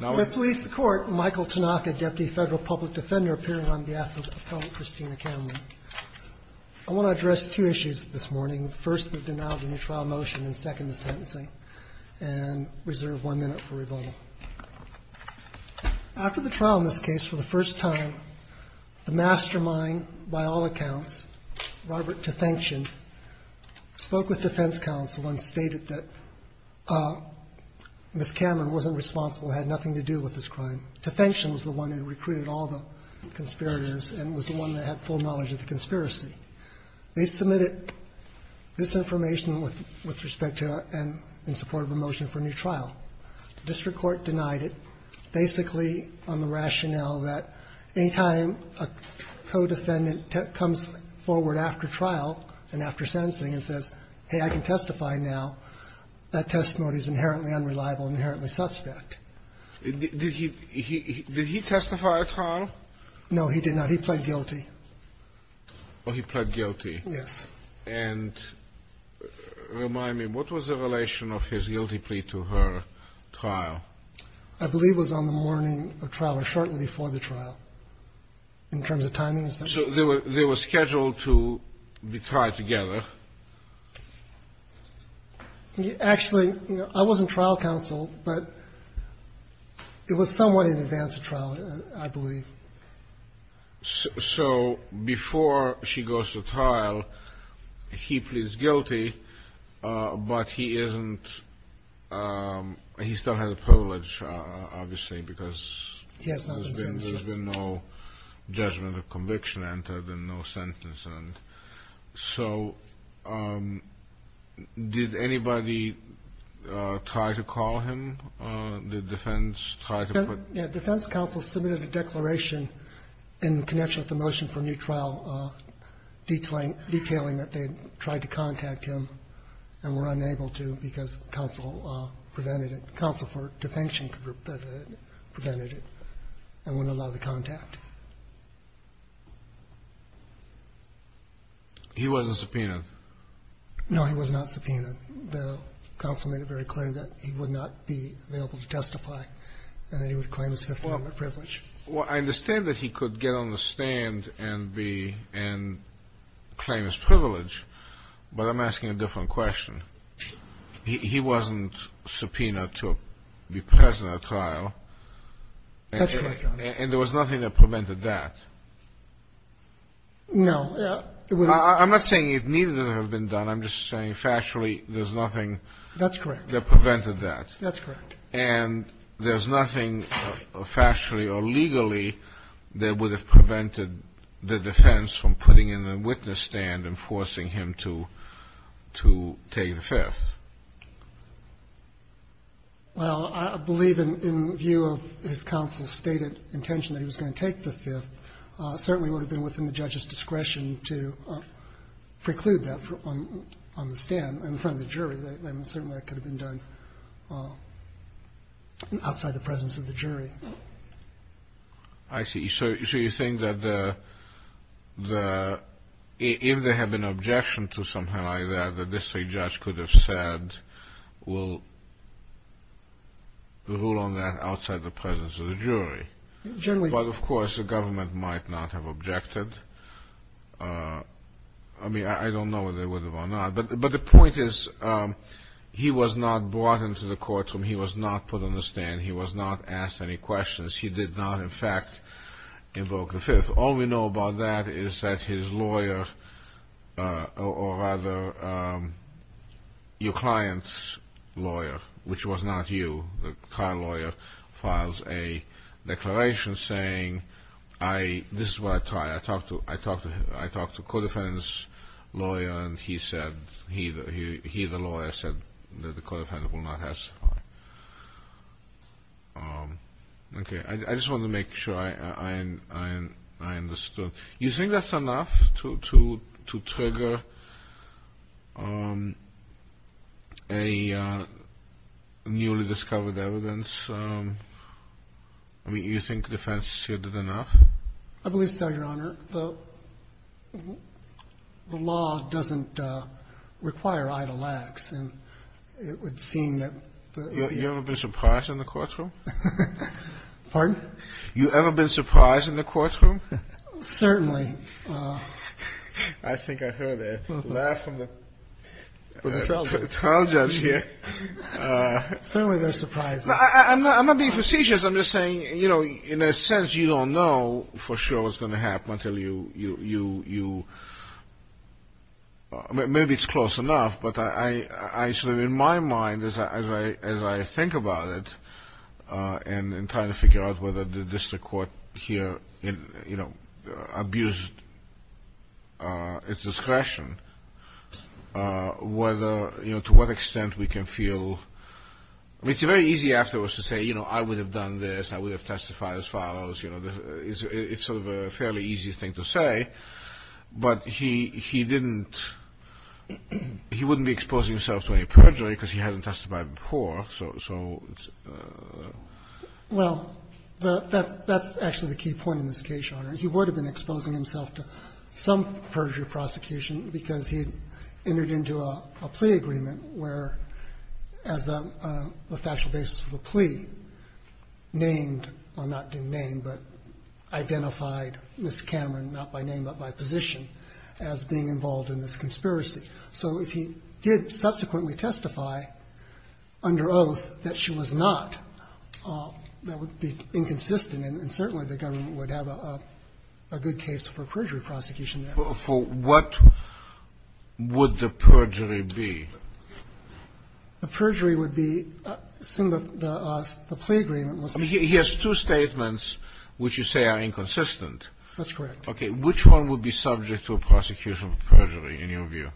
I want to address two issues this morning. First, the denial of the new trial motion, and second, the sentencing. And reserve one minute for rebuttal. After the trial in this case, for the first time, the mastermind, by all accounts, Robert Tefengtian, spoke with defense counsel and stated that Ms. Cameron wasn't responsible, had nothing to do with this crime. Tefengtian was the one who recruited all the conspirators and was the one that had full knowledge of the conspiracy. They submitted this information with respect to and in support of a motion for a new trial. The district court denied it, basically on the rationale that any time a co-defendant comes forward after trial and after sentencing and says, hey, I can testify now, that testimony is inherently unreliable and inherently suspect. Scalia. Did he testify at trial? Cameron No, he did not. He pled guilty. Scalia. Oh, he pled guilty. Cameron Yes. Scalia. And remind me, what was the relation of his guilty plea to her trial? Cameron I believe it was on the morning of trial or shortly before the trial, in terms of timing and such. Scalia. So they were scheduled to be tried together? Cameron Actually, you know, I wasn't trial counsel, but it was somewhat in advance of trial, I believe. Kennedy. So before she goes to trial, he pleads guilty, but he isn't he still has a privilege, obviously, because there's been no judgment of conviction entered and no sentence. And so did anybody try to call him? Did defense try to put defense counsel submitted a declaration in connection with the motion for a new trial detailing that they tried to contact him and were unable to because counsel prevented it. Counsel for defension prevented it and wouldn't allow the contact. Kennedy. He wasn't subpoenaed. Cameron No, he was not subpoenaed. I understand that he could get on the stand and be and claim his privilege. But I'm asking a different question. He wasn't subpoenaed to be present at a trial. And there was nothing that prevented that. No. Kennedy. I'm not saying it needed to have been done. I'm just saying factually there's nothing that prevented that. Cameron That's correct. Kennedy. And there's nothing factually or legally that would have prevented the defense from putting in the witness stand and forcing him to take the fifth. Cameron Well, I believe in view of his counsel's stated intention that he was going to take the fifth, certainly would have been within the judge's discretion to preclude that on the stand in front of the jury. Certainly that could have been done outside the presence of the jury. Kennedy. I see. So you're saying that the the if there had been an objection to something like that, the district judge could have said, well, rule on that outside the presence of the jury. But of course, the government might not have objected. I mean, I don't know whether they would have or not. But the point is, he was not brought into the courtroom. He was not put on the stand. He was not asked any questions. He did not, in fact, invoke the fifth. All we know about that is that his lawyer or rather your client's lawyer, which was not you, the car lawyer, files a declaration saying I this is what I try. I talk to I talk to him. I talk to a defense lawyer. And he said he he the lawyer said that the court offendant will not testify. OK, I just want to make sure I and I and I understood you think that's enough to to to trigger. A newly discovered evidence, I mean, you think defense should have enough, I believe so, Your Honor. The law doesn't require idle acts, and it would seem that you haven't been surprised in the courtroom. Pardon? You ever been surprised in the courtroom? Certainly. I think I heard a laugh from the trial judge here. Certainly they're surprised. I'm not being facetious. I'm just saying, you know, in a sense, you don't know for sure what's going to happen until you, you, you, you. Maybe it's close enough. But I sort of in my mind, as I as I think about it and trying to figure out whether the district court here, you know, abused its discretion, whether you know to what extent we can feel. It's very easy afterwards to say, you know, I would have done this. I would have testified as follows. You know, it's sort of a fairly easy thing to say. But he he didn't he wouldn't be exposing himself to any perjury because he hasn't testified before. So well, that's that's actually the key point in this case, Your Honor. He would have been exposing himself to some perjury prosecution because he entered into a plea agreement where as the factual basis of the plea named or not named, but identified Miss Cameron, not by name, but by position as being involved in this conspiracy. So if he did subsequently testify under oath that she was not, that would be inconsistent. And certainly the government would have a good case for perjury prosecution. For what would the perjury be? The perjury would be some of the plea agreement was. He has two statements which you say are inconsistent. That's correct. Okay. Which one would be subject to a prosecution of perjury in your view?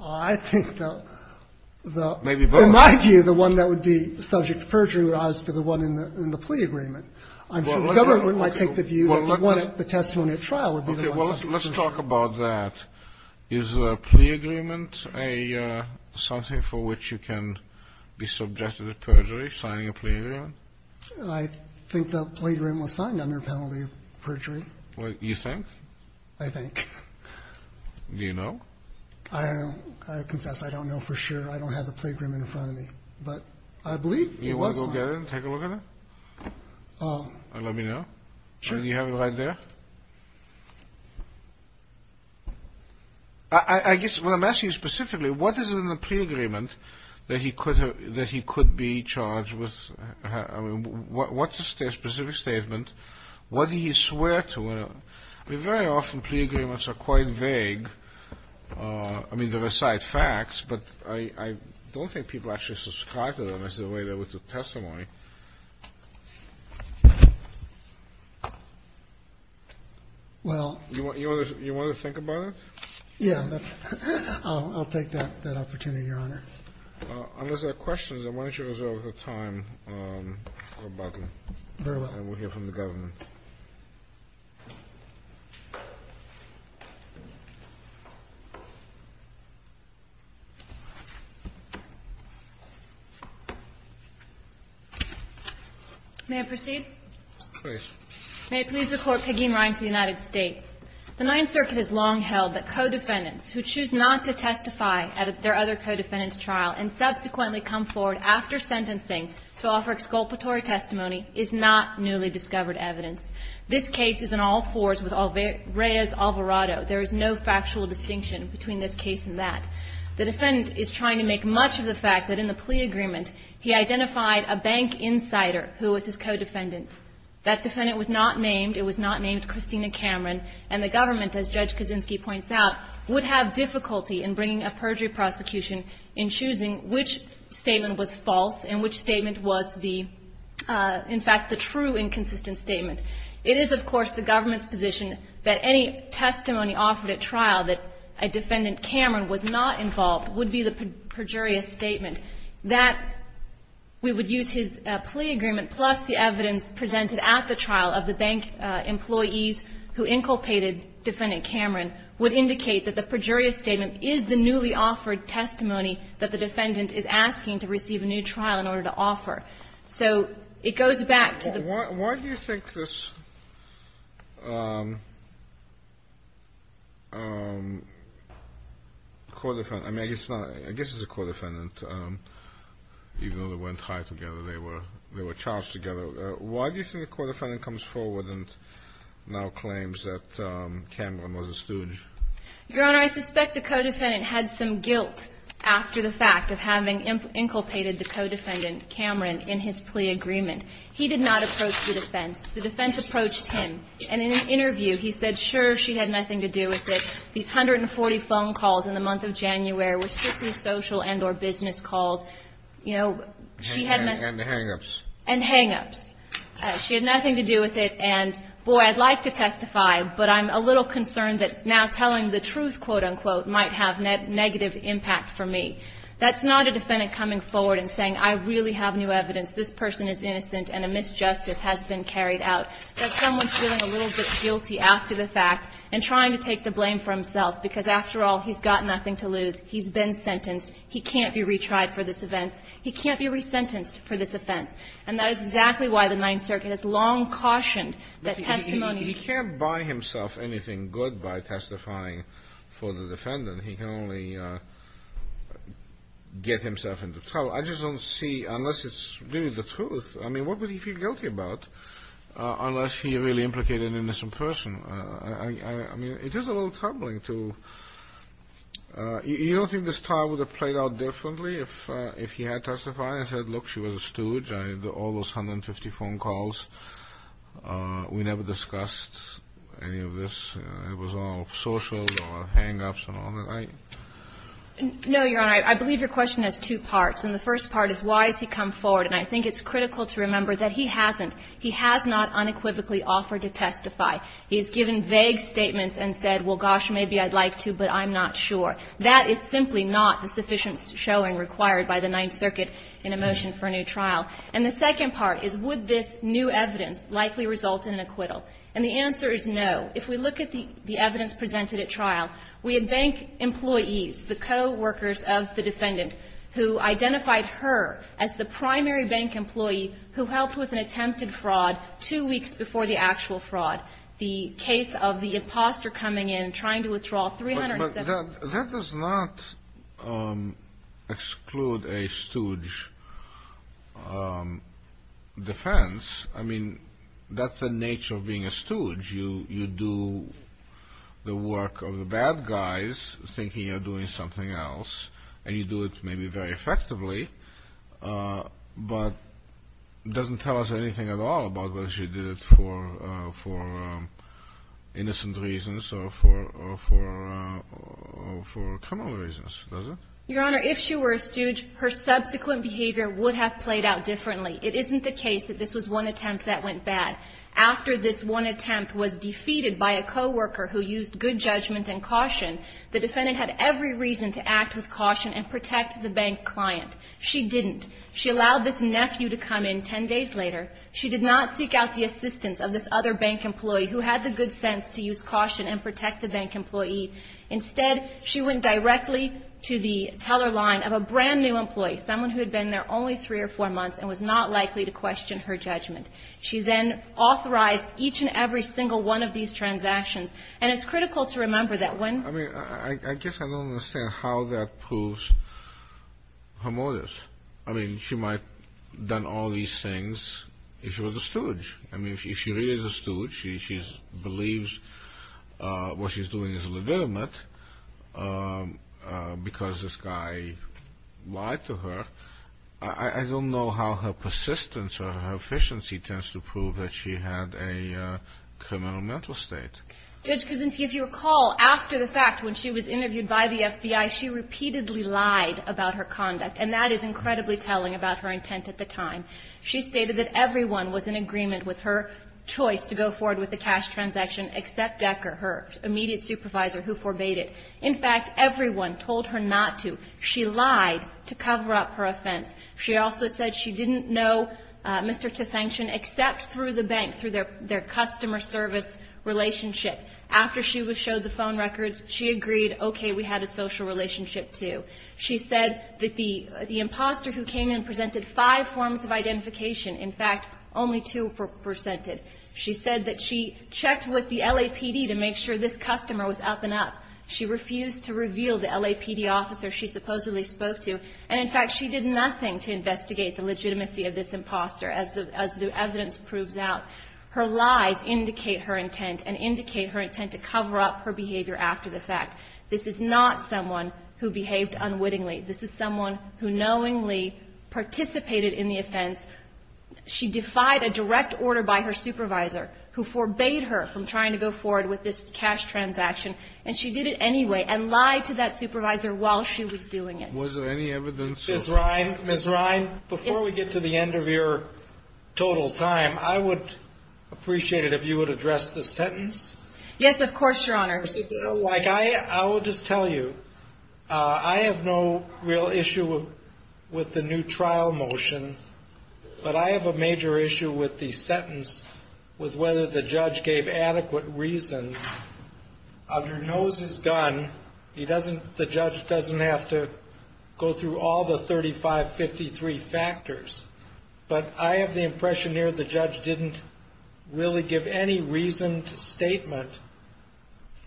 I think the maybe in my view, the one that would be subject to perjury would be the one in the plea agreement. I'm sure the government might take the view that the testimony at trial would be the one subject to perjury. Well, let's talk about that. Is a plea agreement a something for which you can be subjected to perjury, signing a plea agreement? I think the plea agreement was signed under penalty of perjury. You think? I think. Do you know? I confess I don't know for sure. I don't have the plea agreement in front of me, but I believe it was. You want to go get it and take a look at it? Let me know. Sure. Do you have it right there? I guess what I'm asking you specifically, what is in the plea agreement that he could have, he charged with, I mean, what's the specific statement? What did he swear to? I mean, very often plea agreements are quite vague. I mean, they recite facts, but I don't think people actually subscribe to them as the way they would to testimony. Well, you want to think about it? Yeah, I'll take that opportunity, Your Honor. Unless there are questions, I want you to reserve the time for a button. Very well. And we'll hear from the government. May I proceed? Please. May it please the Court, Peggy and Ryan for the United States. The Ninth Circuit has long held that co-defendants who choose not to testify at their other co-defendant's trial and subsequently come forward after sentencing to offer exculpatory testimony is not newly discovered evidence. This case is in all fours with Reyes Alvarado. There is no factual distinction between this case and that. The defendant is trying to make much of the fact that in the plea agreement, he identified a bank insider who was his co-defendant. That defendant was not named. He was named Christina Cameron, and the government, as Judge Kaczynski points out, would have difficulty in bringing a perjury prosecution in choosing which statement was false and which statement was the, in fact, the true inconsistent statement. It is, of course, the government's position that any testimony offered at trial that a defendant Cameron was not involved would be the perjurious statement. That we would use his plea agreement plus the evidence presented at the trial of the bank employees who inculpated defendant Cameron would indicate that the perjurious statement is the newly offered testimony that the defendant is asking to receive a new trial in order to offer. So it goes back to the ---- Kennedy, why do you think this co-defendant, I mean, I guess it's not, I guess it's a co-defendant. Even though they weren't tied together, they were charged together. Why do you think the co-defendant comes forward and now claims that Cameron was a stooge? Your Honor, I suspect the co-defendant had some guilt after the fact of having inculpated the co-defendant, Cameron, in his plea agreement. He did not approach the defense. The defense approached him. And in an interview, he said, sure, she had nothing to do with it. These 140 phone calls in the month of January were strictly social and or business calls. You know, she had not ---- And hang-ups. And hang-ups. She had nothing to do with it. And, boy, I'd like to testify, but I'm a little concerned that now telling the truth, quote, unquote, might have negative impact for me. That's not a defendant coming forward and saying, I really have new evidence, this person is innocent, and a misjustice has been carried out. That's someone feeling a little bit guilty after the fact and trying to take the blame for himself, because, after all, he's got nothing to lose. He's been sentenced. He can't be retried for this offense. He can't be resentenced for this offense. And that is exactly why the Ninth Circuit has long cautioned that testimony ---- He can't buy himself anything good by testifying for the defendant. He can only get himself into trouble. I just don't see, unless it's really the truth, I mean, what would he feel guilty about? Unless he really implicated an innocent person. I mean, it is a little troubling to ---- You don't think this trial would have played out differently if he had testified and said, look, she was a stooge. I had almost 150 phone calls. We never discussed any of this. It was all social or hang-ups and all that. I ---- No, Your Honor. I believe your question has two parts. And the first part is, why has he come forward? And I think it's critical to remember that he hasn't. He has not unequivocally offered to testify. He has given vague statements and said, well, gosh, maybe I'd like to, but I'm not sure. That is simply not the sufficient showing required by the Ninth Circuit in a motion for a new trial. And the second part is, would this new evidence likely result in an acquittal? And the answer is no. If we look at the evidence presented at trial, we had bank employees, the coworkers of the defendant, who identified her as the primary bank employee who helped with an attempted fraud two weeks before the actual fraud, the case of the imposter coming in, trying to withdraw $370. But that does not exclude a stooge defense. I mean, that's the nature of being a stooge. You do the work of the bad guys, thinking you're doing something else, and you do it maybe very effectively. But it doesn't tell us anything at all about whether she did it for innocent reasons or for criminal reasons, does it? Your Honor, if she were a stooge, her subsequent behavior would have played out differently. It isn't the case that this was one attempt that went bad. After this one attempt was defeated by a coworker who used good judgment and caution, the defendant had every reason to act with caution and protect the bank client. She didn't. She allowed this nephew to come in 10 days later. She did not seek out the assistance of this other bank employee who had the good sense to use caution and protect the bank employee. Instead, she went directly to the teller line of a brand new employee, someone who had been there only three or four months and was not likely to question her judgment. She then authorized each and every single one of these transactions. And it's critical to remember that when... I mean, I guess I don't understand how that proves her motives. I mean, she might have done all these things if she was a stooge. I mean, if she really is a stooge, she believes what she's doing is legitimate because this guy lied to her. I don't know how her persistence or her efficiency tends to prove that she had a criminal mental state. Judge Kuczynski, if you recall, after the fact, when she was interviewed by the FBI, she repeatedly lied about her conduct. And that is incredibly telling about her intent at the time. She stated that everyone was in agreement with her choice to go forward with the cash transaction except Decker, her immediate supervisor, who forbade it. In fact, everyone told her not to. She lied to cover up her offense. She also said she didn't know Mr. Tefancion except through the bank, through their customer service relationship. After she was showed the phone records, she agreed, okay, we had a social relationship too. She said that the imposter who came in presented five forms of identification. In fact, only two were presented. She said that she checked with the LAPD to make sure this customer was up and up. She refused to reveal the LAPD officer. She supposedly spoke to, and in fact, she did nothing to investigate the legitimacy of this imposter as the evidence proves out. Her lies indicate her intent and indicate her intent to cover up her behavior after the fact. This is not someone who behaved unwittingly. This is someone who knowingly participated in the offense. She defied a direct order by her supervisor who forbade her from trying to go forward with this cash transaction. And she did it anyway and lied to that supervisor while she was doing it. Was there any evidence? Ms. Rhyne, Ms. Rhyne, before we get to the end of your total time, I would appreciate it if you would address the sentence. Yes, of course, Your Honor. Like, I will just tell you, I have no real issue with the new trial motion, but I have a major issue with the sentence, with whether the judge gave adequate reasons. Under Nose is Gun, he doesn't, the judge doesn't have to go through all the 3553 factors, but I have the impression here the judge didn't really give any reasoned statement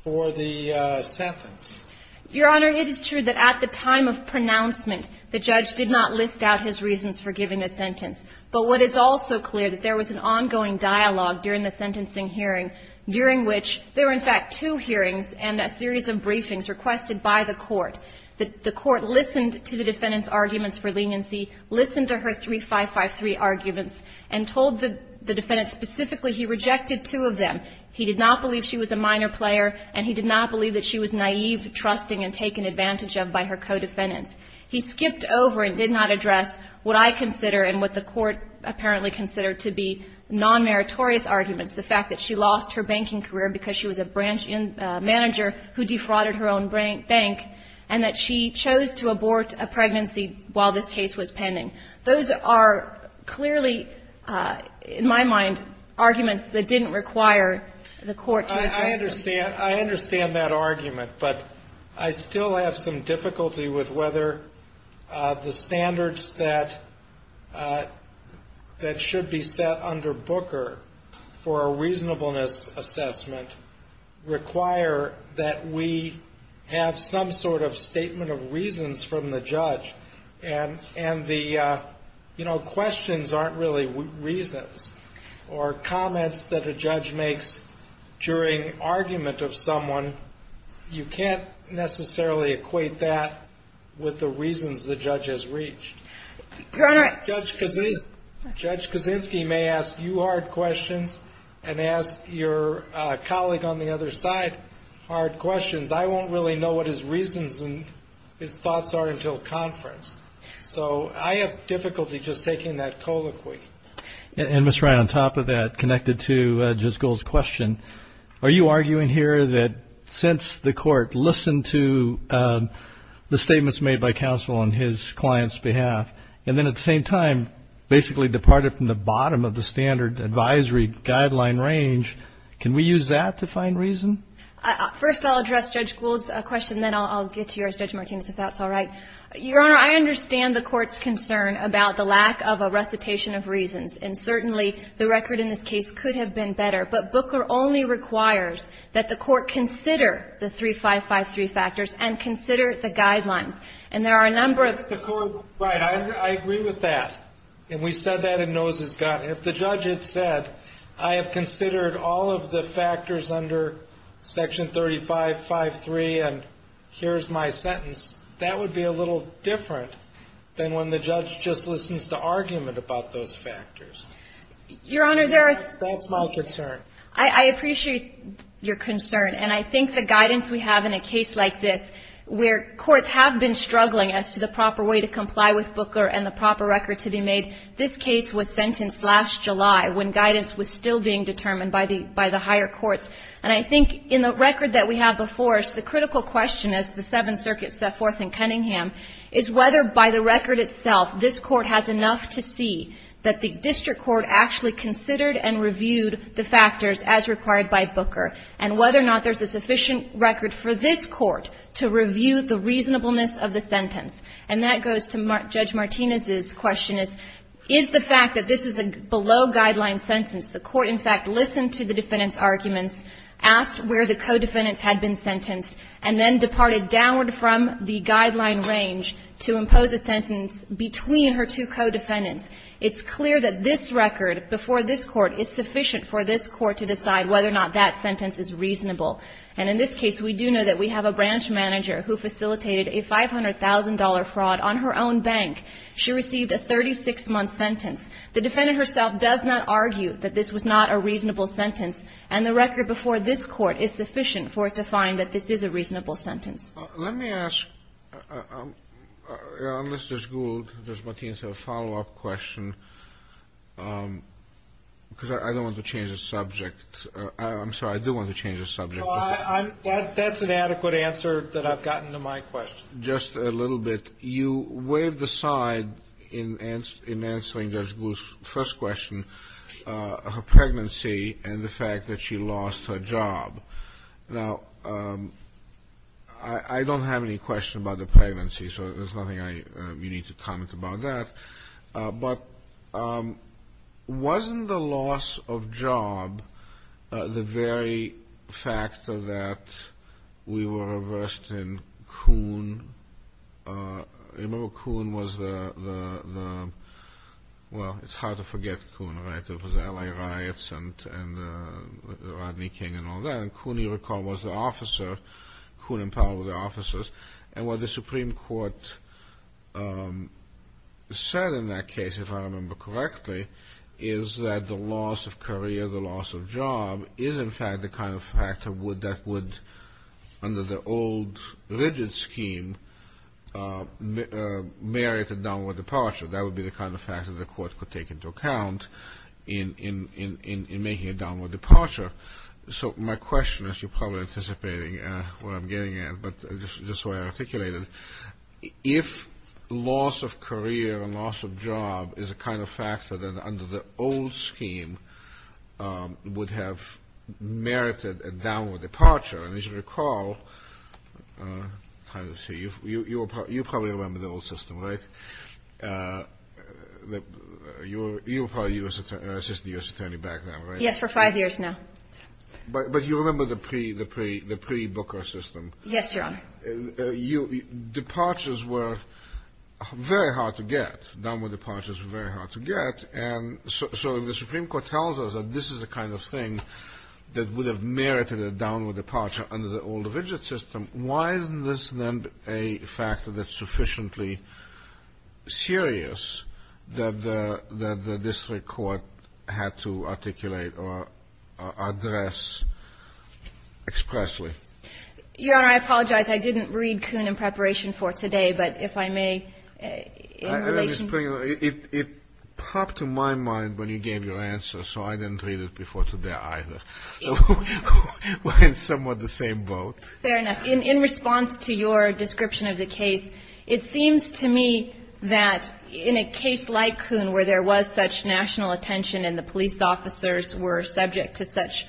for the sentence. Your Honor, it is true that at the time of pronouncement, the judge did not list out his reasons for giving a sentence. But what is also clear, that there was an ongoing dialogue during the sentencing hearing, during which there were in fact two hearings and a series of briefings requested by the court. The court listened to the defendant's arguments for leniency, listened to her 3553 arguments, and told the defendant specifically he rejected two of them. He did not believe she was a minor player, and he did not believe that she was naive, trusting, and taken advantage of by her co-defendants. He skipped over and did not address what I consider and what the court apparently considered to be non-meritorious arguments, the fact that she lost her banking career because she was a branch manager who defrauded her own bank, and that she chose to abort a pregnancy while this case was pending. Those are clearly, in my mind, arguments that didn't require the court to assess them. I understand that argument, but I still have some difficulty with whether the standards that should be set under Booker for a reasonableness assessment require that we have some sort of statement of reasons from the judge, and the questions aren't really reasons, or comments that a judge makes during argument of someone. You can't necessarily equate that with the reasons the judge has reached. Judge Kaczynski may ask you hard questions and ask your colleague on the other side hard questions. I won't really know what his reasons and his thoughts are until conference, so I have difficulty just taking that colloquy. And Ms. Ryan, on top of that, connected to Judge Gould's question, are you arguing here that since the court listened to the statements made by counsel on his client's behalf, and then at the same time basically departed from the bottom of the standard advisory guideline range, can we use that to find reason? First, I'll address Judge Gould's question, then I'll get to yours, Judge Martinez, if that's all right. Your Honor, I understand the court's concern about the lack of a recitation of reasons, and certainly the record in this case could have been better, but Booker only requires that the court consider the 3553 factors and consider the guidelines. And there are a number of- The court- Right, I agree with that. And we said that in Nose's Gun. If the judge had said, I have considered all of the factors under Section 3553, and here's my sentence, that would be a little different than when the judge just listens to argument about those factors. Your Honor, there are- That's my concern. I appreciate your concern, and I think the guidance we have in a case like this, where courts have been struggling as to the proper way to comply with Booker and the proper record to be made, this case was sentenced last July when guidance was still being determined by the higher courts. And I think in the record that we have before us, the critical question as the Seventh Circuit set forth in Cunningham is whether by the record itself this court has enough to see that the district court actually considered and reviewed the factors as required by Booker. And whether or not there's a sufficient record for this court to review the reasonableness of the sentence. And that goes to Judge Martinez's question is, is the fact that this is a below-guideline sentence, the court in fact listened to the defendant's arguments, asked where the co-defendants had been sentenced, and then departed downward from the guideline range to impose a sentence between her two co-defendants. It's clear that this record before this court is sufficient for this court to decide whether or not that sentence is reasonable. And in this case, we do know that we have a branch manager who facilitated a $500,000 fraud on her own bank. She received a 36-month sentence. The defendant herself does not argue that this was not a reasonable sentence. And the record before this court is sufficient for it to find that this is a reasonable sentence. Let me ask, unless there's Google, does Martinez have a follow-up question? Because I don't want to change the subject. I'm sorry, I do want to change the subject. No, that's an adequate answer that I've gotten to my question. Just a little bit. You waved aside in answering Judge Bluth's first question, her pregnancy and the fact that she lost her job. Now, I don't have any question about the pregnancy, so there's nothing you need to comment about that. But wasn't the loss of job the very fact that we were reversed in Coon? Remember, Coon was the, well, it's hard to forget Coon, right? It was the Allied Riots and Rodney King and all that. And Coon, you recall, was the officer, Coon and Powell were the officers. And what the Supreme Court said in that case, if I remember correctly, is that the loss of career, the loss of job, is in fact the kind of factor that would, under the old rigid scheme, merit a downward departure. That would be the kind of factor the court could take into account in making a downward departure. So my question is, you're probably anticipating what I'm getting at, but just so I articulate it, if loss of career and loss of job is a kind of factor that under the old scheme would have merited a downward departure, and as you recall, you probably remember the old system, right? You were probably an assistant U.S. attorney back then, right? Yes, for five years now. But you remember the pre-Booker system? Yes, Your Honor. Departures were very hard to get. Downward departures were very hard to get. And so if the Supreme Court tells us that this is the kind of thing that would have merited a downward departure under the old rigid system, why isn't this then a factor that's sufficiently serious that the district court had to articulate or address expressly? Your Honor, I apologize. I didn't read Kuhn in preparation for today, but if I may, in relation to you. It popped to my mind when you gave your answer, so I didn't read it before today either. We're in somewhat the same boat. Fair enough. In response to your description of the case, it seems to me that in a case like Kuhn, where there was such national attention and the police officers were subject to such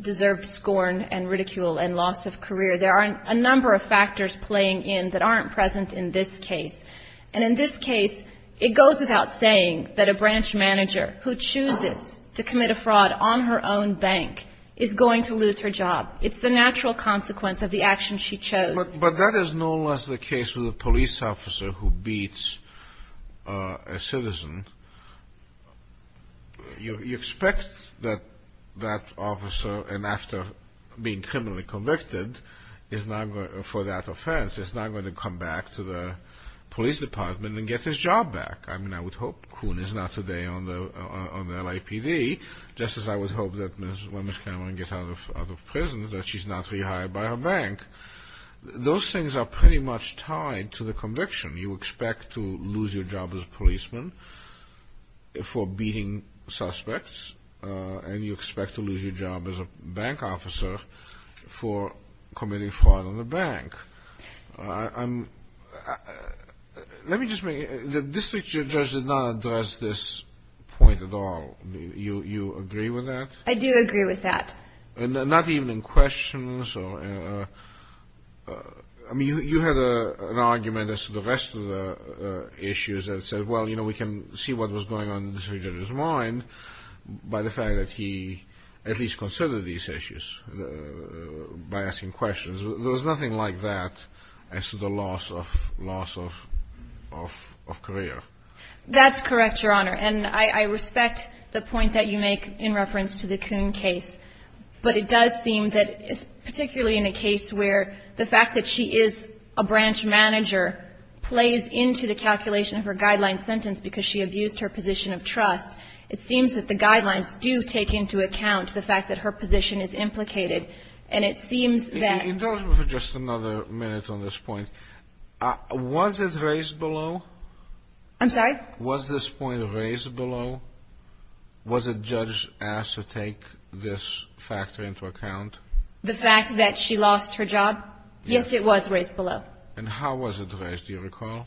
deserved scorn and ridicule and loss of career, there are a number of factors playing in that aren't present in this case. And in this case, it goes without saying that a branch manager who chooses to commit a fraud on her own bank is going to lose her job. It's the natural consequence of the action she chose. But that is no less the case with a police officer who beats a citizen. You expect that that officer, and after being criminally convicted for that offense, is not going to come back to the police department and get his job back. I mean, I would hope Kuhn is not today on the LAPD, just as I would hope that when Ms. Cameron gets out of prison that she's not rehired by her bank. Those things are pretty much tied to the conviction. You expect to lose your job as a policeman for beating suspects, and you expect to lose your job as a bank officer for committing fraud on the bank. I'm, let me just make, the district judge did not address this point at all. You agree with that? I do agree with that. And not even in questions or, I mean, you had an argument as to the rest of the issues that said, well, you know, we can see what was going on in the district judge's mind by the fact that he at least considered these issues by asking questions. There was nothing like that as to the loss of career. That's correct, Your Honor, and I respect the point that you make in reference to the Kuhn case. But it does seem that, particularly in a case where the fact that she is a branch manager plays into the calculation of her guideline sentence because she abused her position of trust, it seems that the guidelines do take into account the fact that her position is implicated. And it seems that the judge has to take responsibility for the loss of career. In terms of just another minute on this point, was it raised below? I'm sorry? Was this point raised below? Was a judge asked to take this factor into account? The fact that she lost her job? Yes, it was raised below. And how was it raised? Do you recall?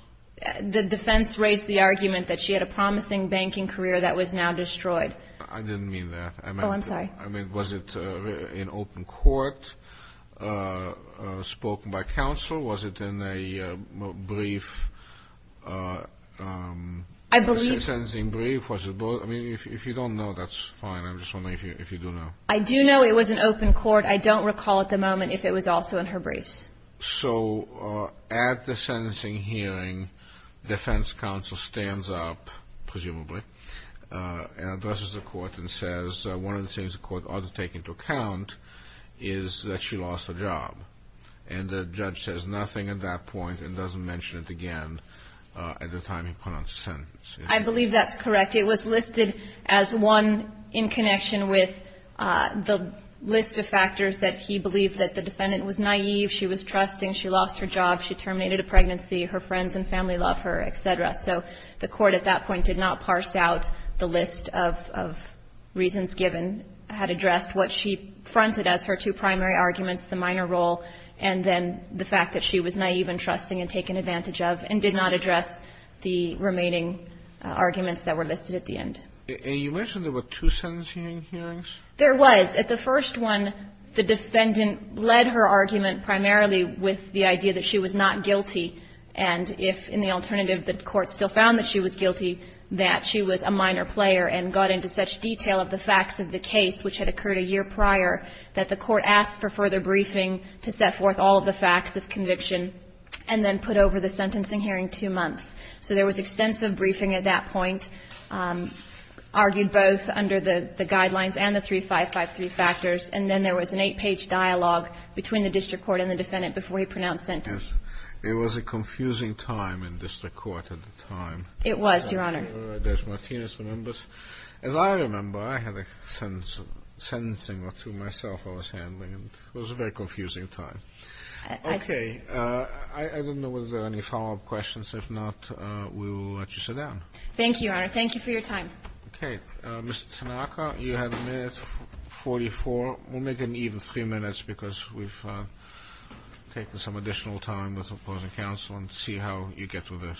The defense raised the argument that she had a promising banking career that was now destroyed. I didn't mean that. Oh, I'm sorry. I mean, was it in open court, spoken by counsel? Was it in a brief sentencing brief? I mean, if you don't know, that's fine. I'm just wondering if you do know. I do know it was in open court. I don't recall at the moment if it was also in her briefs. So at the sentencing hearing, defense counsel stands up, presumably, and addresses the court and says one of the things the court ought to take into account is that she lost her job. And the judge says nothing at that point and doesn't mention it again at the time he pronounced the sentence. I believe that's correct. It was listed as one in connection with the list of factors that he believed that the defendant was naive, she was trusting, she lost her job, she terminated a pregnancy, her friends and family love her, et cetera. So the court at that point did not parse out the list of reasons given, had addressed what she fronted as her two primary arguments, the minor role, and then the fact that she was naive and trusting and taken advantage of and did not address the remaining arguments that were listed at the end. And you mentioned there were two sentencing hearings? There was. At the first one, the defendant led her argument primarily with the idea that she was not guilty. And if in the alternative the court still found that she was guilty, that she was a minor player and got into such detail of the facts of the case, which had occurred a year prior, that the court asked for further briefing to set forth all of the facts of conviction and then put over the sentencing hearing two months. So there was extensive briefing at that point, argued both under the guidelines and the 3553 factors, and then there was an eight-page dialogue between the district court and the defendant before he pronounced sentence. It was a confusing time in district court at the time. It was, Your Honor. As Martinez remembers. As I remember, I had a sentencing or two myself I was handling, and it was a very confusing time. Okay. I don't know whether there are any follow-up questions. If not, we will let you sit down. Thank you, Your Honor. Thank you for your time. Okay. Mr. Tanaka, you have a minute, 44. We'll make it an even three minutes because we've taken some additional time with opposing counsel and see how you get with this.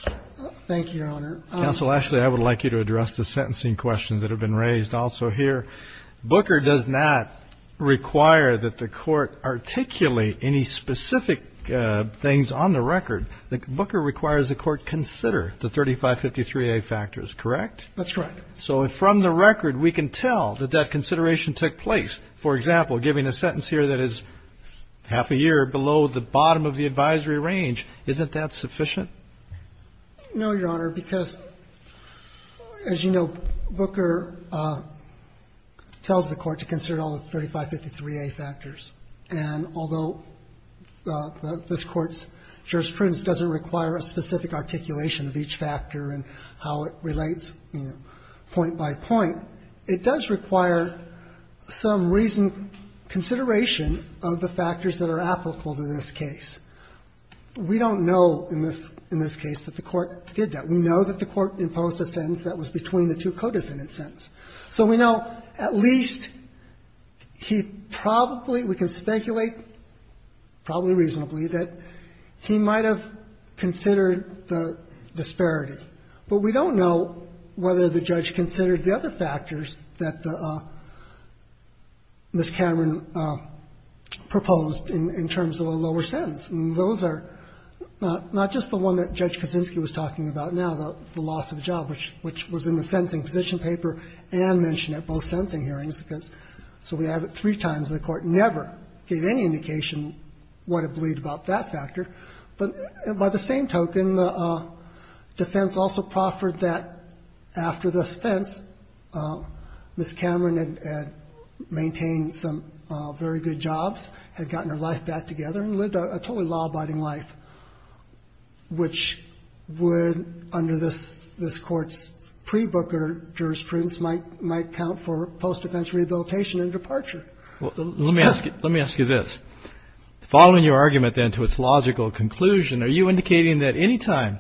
Thank you, Your Honor. Counsel, actually, I would like you to address the sentencing questions that have been raised also here. Booker does not require that the Court articulate any specific things on the record. Booker requires the Court consider the 3553A factors, correct? That's correct. So from the record, we can tell that that consideration took place. For example, giving a sentence here that is half a year below the bottom of the advisory range, isn't that sufficient? No, Your Honor, because, as you know, Booker tells the Court to consider all the 3553A factors, and although this Court's jurisprudence doesn't require a specific articulation of each factor and how it relates, you know, point by point, it does require some reasoned consideration of the factors that are applicable to this case. We don't know in this case that the Court did that. We know that the Court imposed a sentence that was between the two co-defendant sentences. So we know at least he probably we can speculate, probably reasonably, that he might have considered the disparity, but we don't know whether the judge considered the other factors that Ms. Cameron proposed in terms of a lower sentence. And those are not just the one that Judge Kaczynski was talking about now, the loss of a job, which was in the sentencing position paper and mentioned at both sentencing hearings, because so we have it three times. The Court never gave any indication what it believed about that factor. But by the same token, the defense also proffered that after the defense, Ms. Cameron had maintained some very good jobs, had gotten her life back together, and lived a totally law-abiding life, which would, under this Court's pre-Booker jurisprudence, might count for post-defense rehabilitation and departure. Well, let me ask you this. Following your argument, then, to its logical conclusion, are you indicating that any time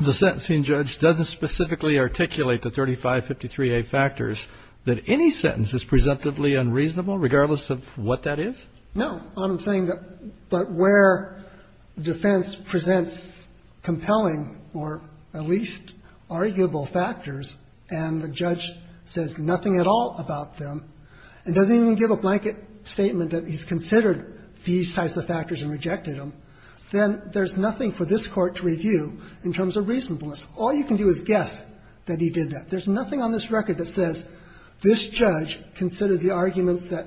the sentencing judge doesn't specifically articulate the 3553A factors, that any sentence is presumptively unreasonable, regardless of what that is? No. All I'm saying that, but where defense presents compelling or at least arguable factors, and the judge says nothing at all about them, and doesn't even give a blanket statement that he's considered these types of factors and rejected them, then there's nothing for this Court to review in terms of reasonableness. All you can do is guess that he did that. There's nothing on this record that says, this judge considered the arguments that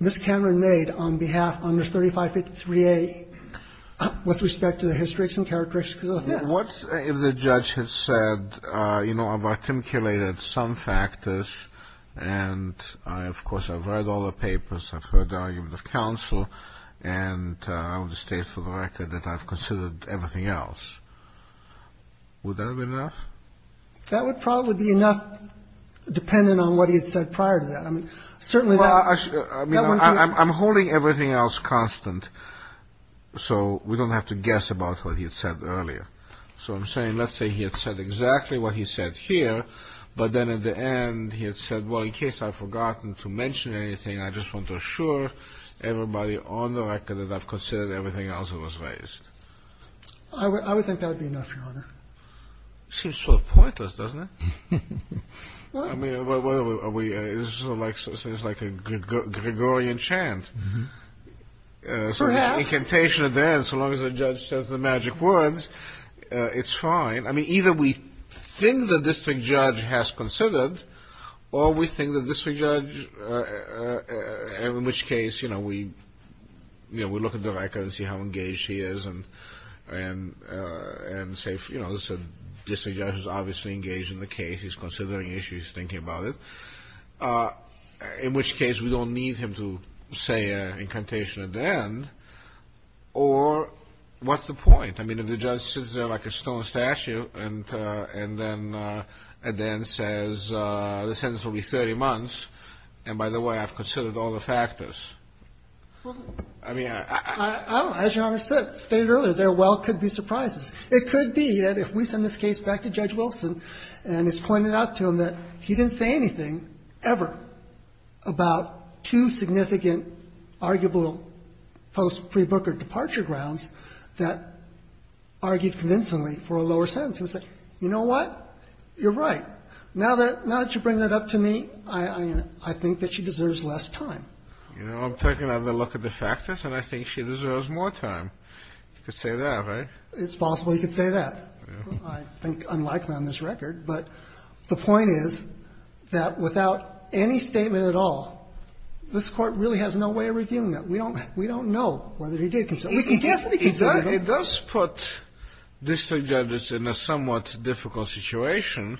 Ms. Cameron made on behalf, under 3553A, with respect to the histories and characteristics of this. What if the judge had said, you know, I've articulated some factors, and I, of course, I've read all the papers, I've heard the arguments of counsel, and I would state for the record that I've considered everything else. Would that have been enough? That would probably be enough, dependent on what he had said prior to that. I mean, certainly that wouldn't be enough. I mean, I'm holding everything else constant, so we don't have to guess about what he had said earlier. So I'm saying, let's say he had said exactly what he said here, but then at the end he had said, well, in case I've forgotten to mention anything, I just want to assure everybody on the record that I've considered everything else that was raised. I would think that would be enough, Your Honor. It seems sort of pointless, doesn't it? I mean, it's sort of like a Gregorian chant. Perhaps. So the incantation of that, so long as the judge says the magic words, it's fine. I mean, either we think the district judge has considered, or we think the district judge, in which case, you know, we look at the record and see how engaged he is and say, you know, the district judge is obviously engaged in the case. He's considering issues, thinking about it, in which case we don't need him to say an incantation at the end. Or what's the point? I mean, if the judge sits there like a stone statue and then at the end says, the sentence will be 30 months, and by the way, I've considered all the factors. I mean, I don't know. As Your Honor said, stated earlier, there well could be surprises. It could be that if we send this case back to Judge Wilson and it's pointed out to him that he didn't say anything, ever, about two significant arguable post-pre-Booker departure grounds that argued convincingly for a lower sentence, he would say, you know what, you're right. Now that you bring that up to me, I think that she deserves less time. You know, I'm taking another look at the factors and I think she deserves more time. You could say that, right? It's possible he could say that. I think unlikely on this record, but the point is that without any statement at all, this Court really has no way of revealing that. We don't know whether he did consider it. We can guess that he considered it. It does put district judges in a somewhat difficult situation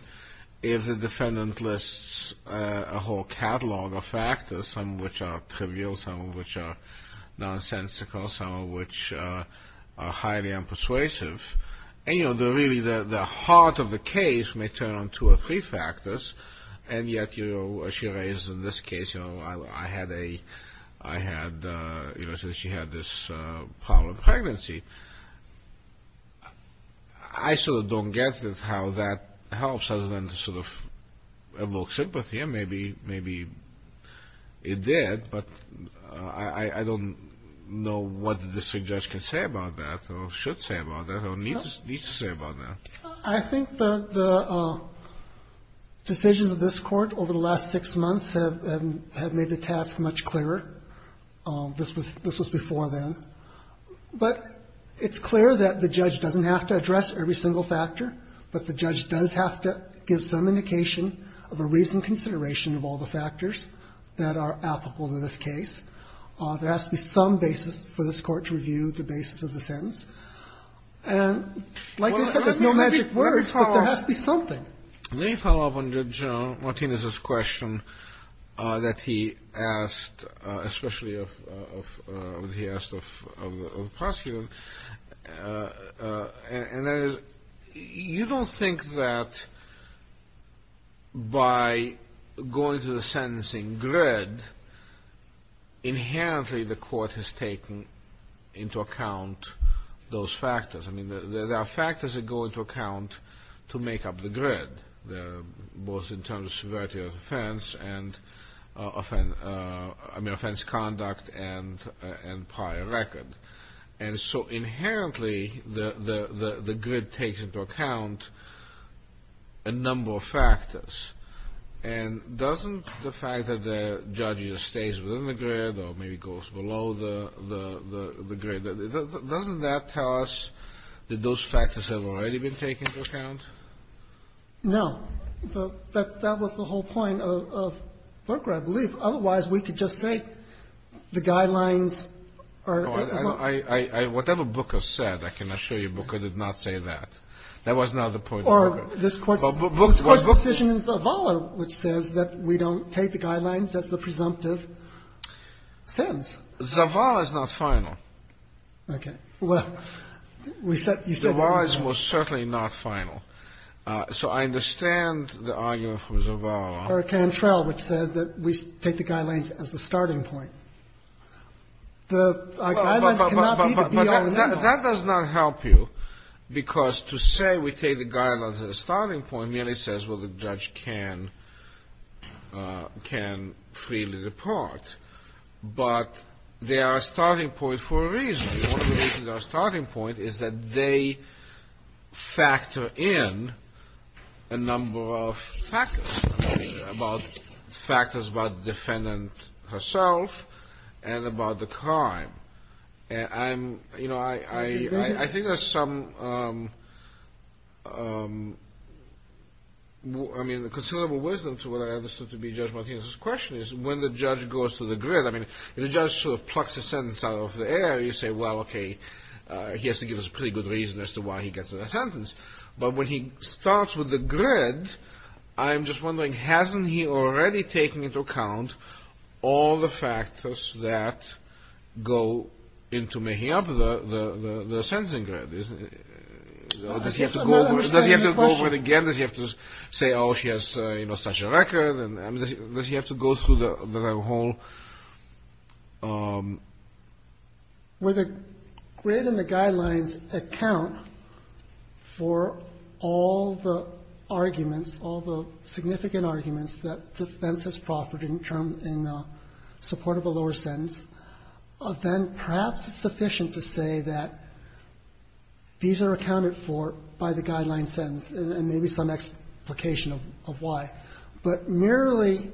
if the defendant lists a whole catalog of factors, some of which are trivial, some of which are nonsensical, some of which are highly unpersuasive. And, you know, really the heart of the case may turn on two or three factors, and yet you know, she raises in this case, you know, I had a, I had, you know, she had this problem with her pregnancy. I sort of don't get how that helps other than to sort of evoke sympathy, and maybe, maybe it did, but I don't know what the district judge can say about that or should say about that or needs to say about that. I think the decisions of this Court over the last six months have made the task much clearer. This was, this was before then. But it's clear that the judge doesn't have to address every single factor, but the judge does have to give some indication of a reasoned consideration of all the factors that are applicable to this case. There has to be some basis for this Court to review the basis of the sentence. And like I said, there's no magic words, but there has to be something. Kennedy. Let me follow up on General Martinez's question that he asked, especially of, of, he asked of, of the prosecutor, and that is, you don't think that by going to the sentencing grid, inherently the Court has taken into account those factors. I mean, there are factors that go into account to make up the grid, both in terms of severity of offense and offense, I mean, offense conduct and, and prior record. And so inherently the, the, the grid takes into account a number of factors. And doesn't the fact that the judge just stays within the grid or maybe goes below the, the, the grid, doesn't that tell us that those factors have already been taken into account? No. That, that was the whole point of, of Booker, I believe. Otherwise, we could just say the guidelines are, is not. I, I, I, whatever Booker said, I can assure you Booker did not say that. That was not the point of Booker. Or this Court's, this Court's decision in Zavala which says that we don't take the guidelines, that's the presumptive sentence. Zavala's not final. Okay. Well, we said, you said that. Zavala's was certainly not final. So I understand the argument from Zavala. Hurricane Trail which said that we take the guidelines as the starting point. The guidelines cannot be the be-all and end-all. That does not help you because to say we take the guidelines as a starting point merely says, well, the judge can, can freely depart. But they are a starting point for a reason. One of the reasons they are a starting point is that they factor in a number of factors. About factors about the defendant herself and about the crime. And I'm, you know, I, I, I think there's some, I mean, considerable wisdom to what I understood to be Judge Martinez's question is when the judge goes to the grid, I mean, the judge sort of plucks a sentence out of the air. You say, well, okay, he has to give us a pretty good reason as to why he gets a sentence. But when he starts with the grid, I'm just wondering, hasn't he already taken into account all the factors that go into making up the, the, the, the sentencing grid? Isn't it, does he have to go over, does he have to go over it again? Does he have to say, oh, she has, you know, such a record? I mean, does he have to go through the, the whole? Katyala, where the grid and the guidelines account for all the arguments, all the significant arguments that defense has proffered in support of a lower sentence, then perhaps it's sufficient to say that these are accounted for by the guideline sentence and maybe some explication of why. But merely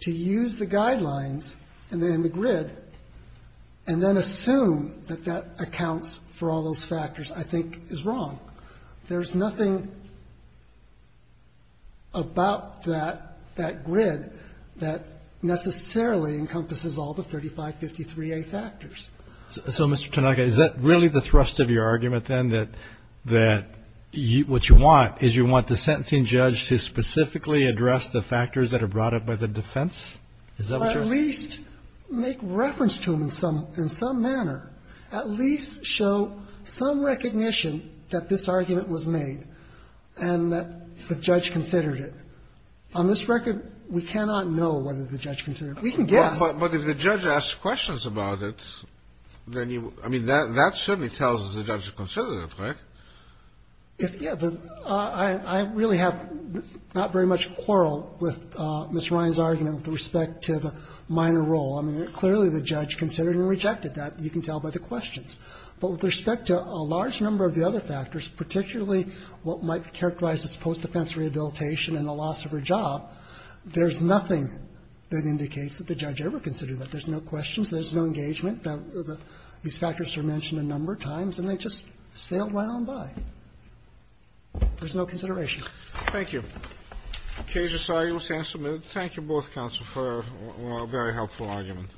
to use the guidelines and then the grid and then assume that that accounts for all those factors, I think, is wrong. There's nothing about that, that grid that necessarily encompasses all the 3553A factors. So, Mr. Tanaka, is that really the thrust of your argument, then, that, that what you want is you want the sentencing judge to specifically address the factors that are brought up by the defense? Is that what you're saying? At least make reference to them in some, in some manner. At least show some recognition that this argument was made and that the judge considered it. On this record, we cannot know whether the judge considered it. We can guess. But if the judge asks questions about it, then you, I mean, that, that certainly tells us the judge considered it, right? If, yeah, but I, I really have not very much quarrel with Ms. Ryan's argument with respect to the minor role. I mean, clearly the judge considered and rejected that. You can tell by the questions. But with respect to a large number of the other factors, particularly what might be characterized as post-defense rehabilitation and the loss of her job, there's nothing that indicates that the judge ever considered that. There's no questions, there's no engagement. These factors are mentioned a number of times, and they just sailed right on by. There's no consideration. Thank you. Cages, I will stand submitted. Thank you both, counsel, for a very helpful argument.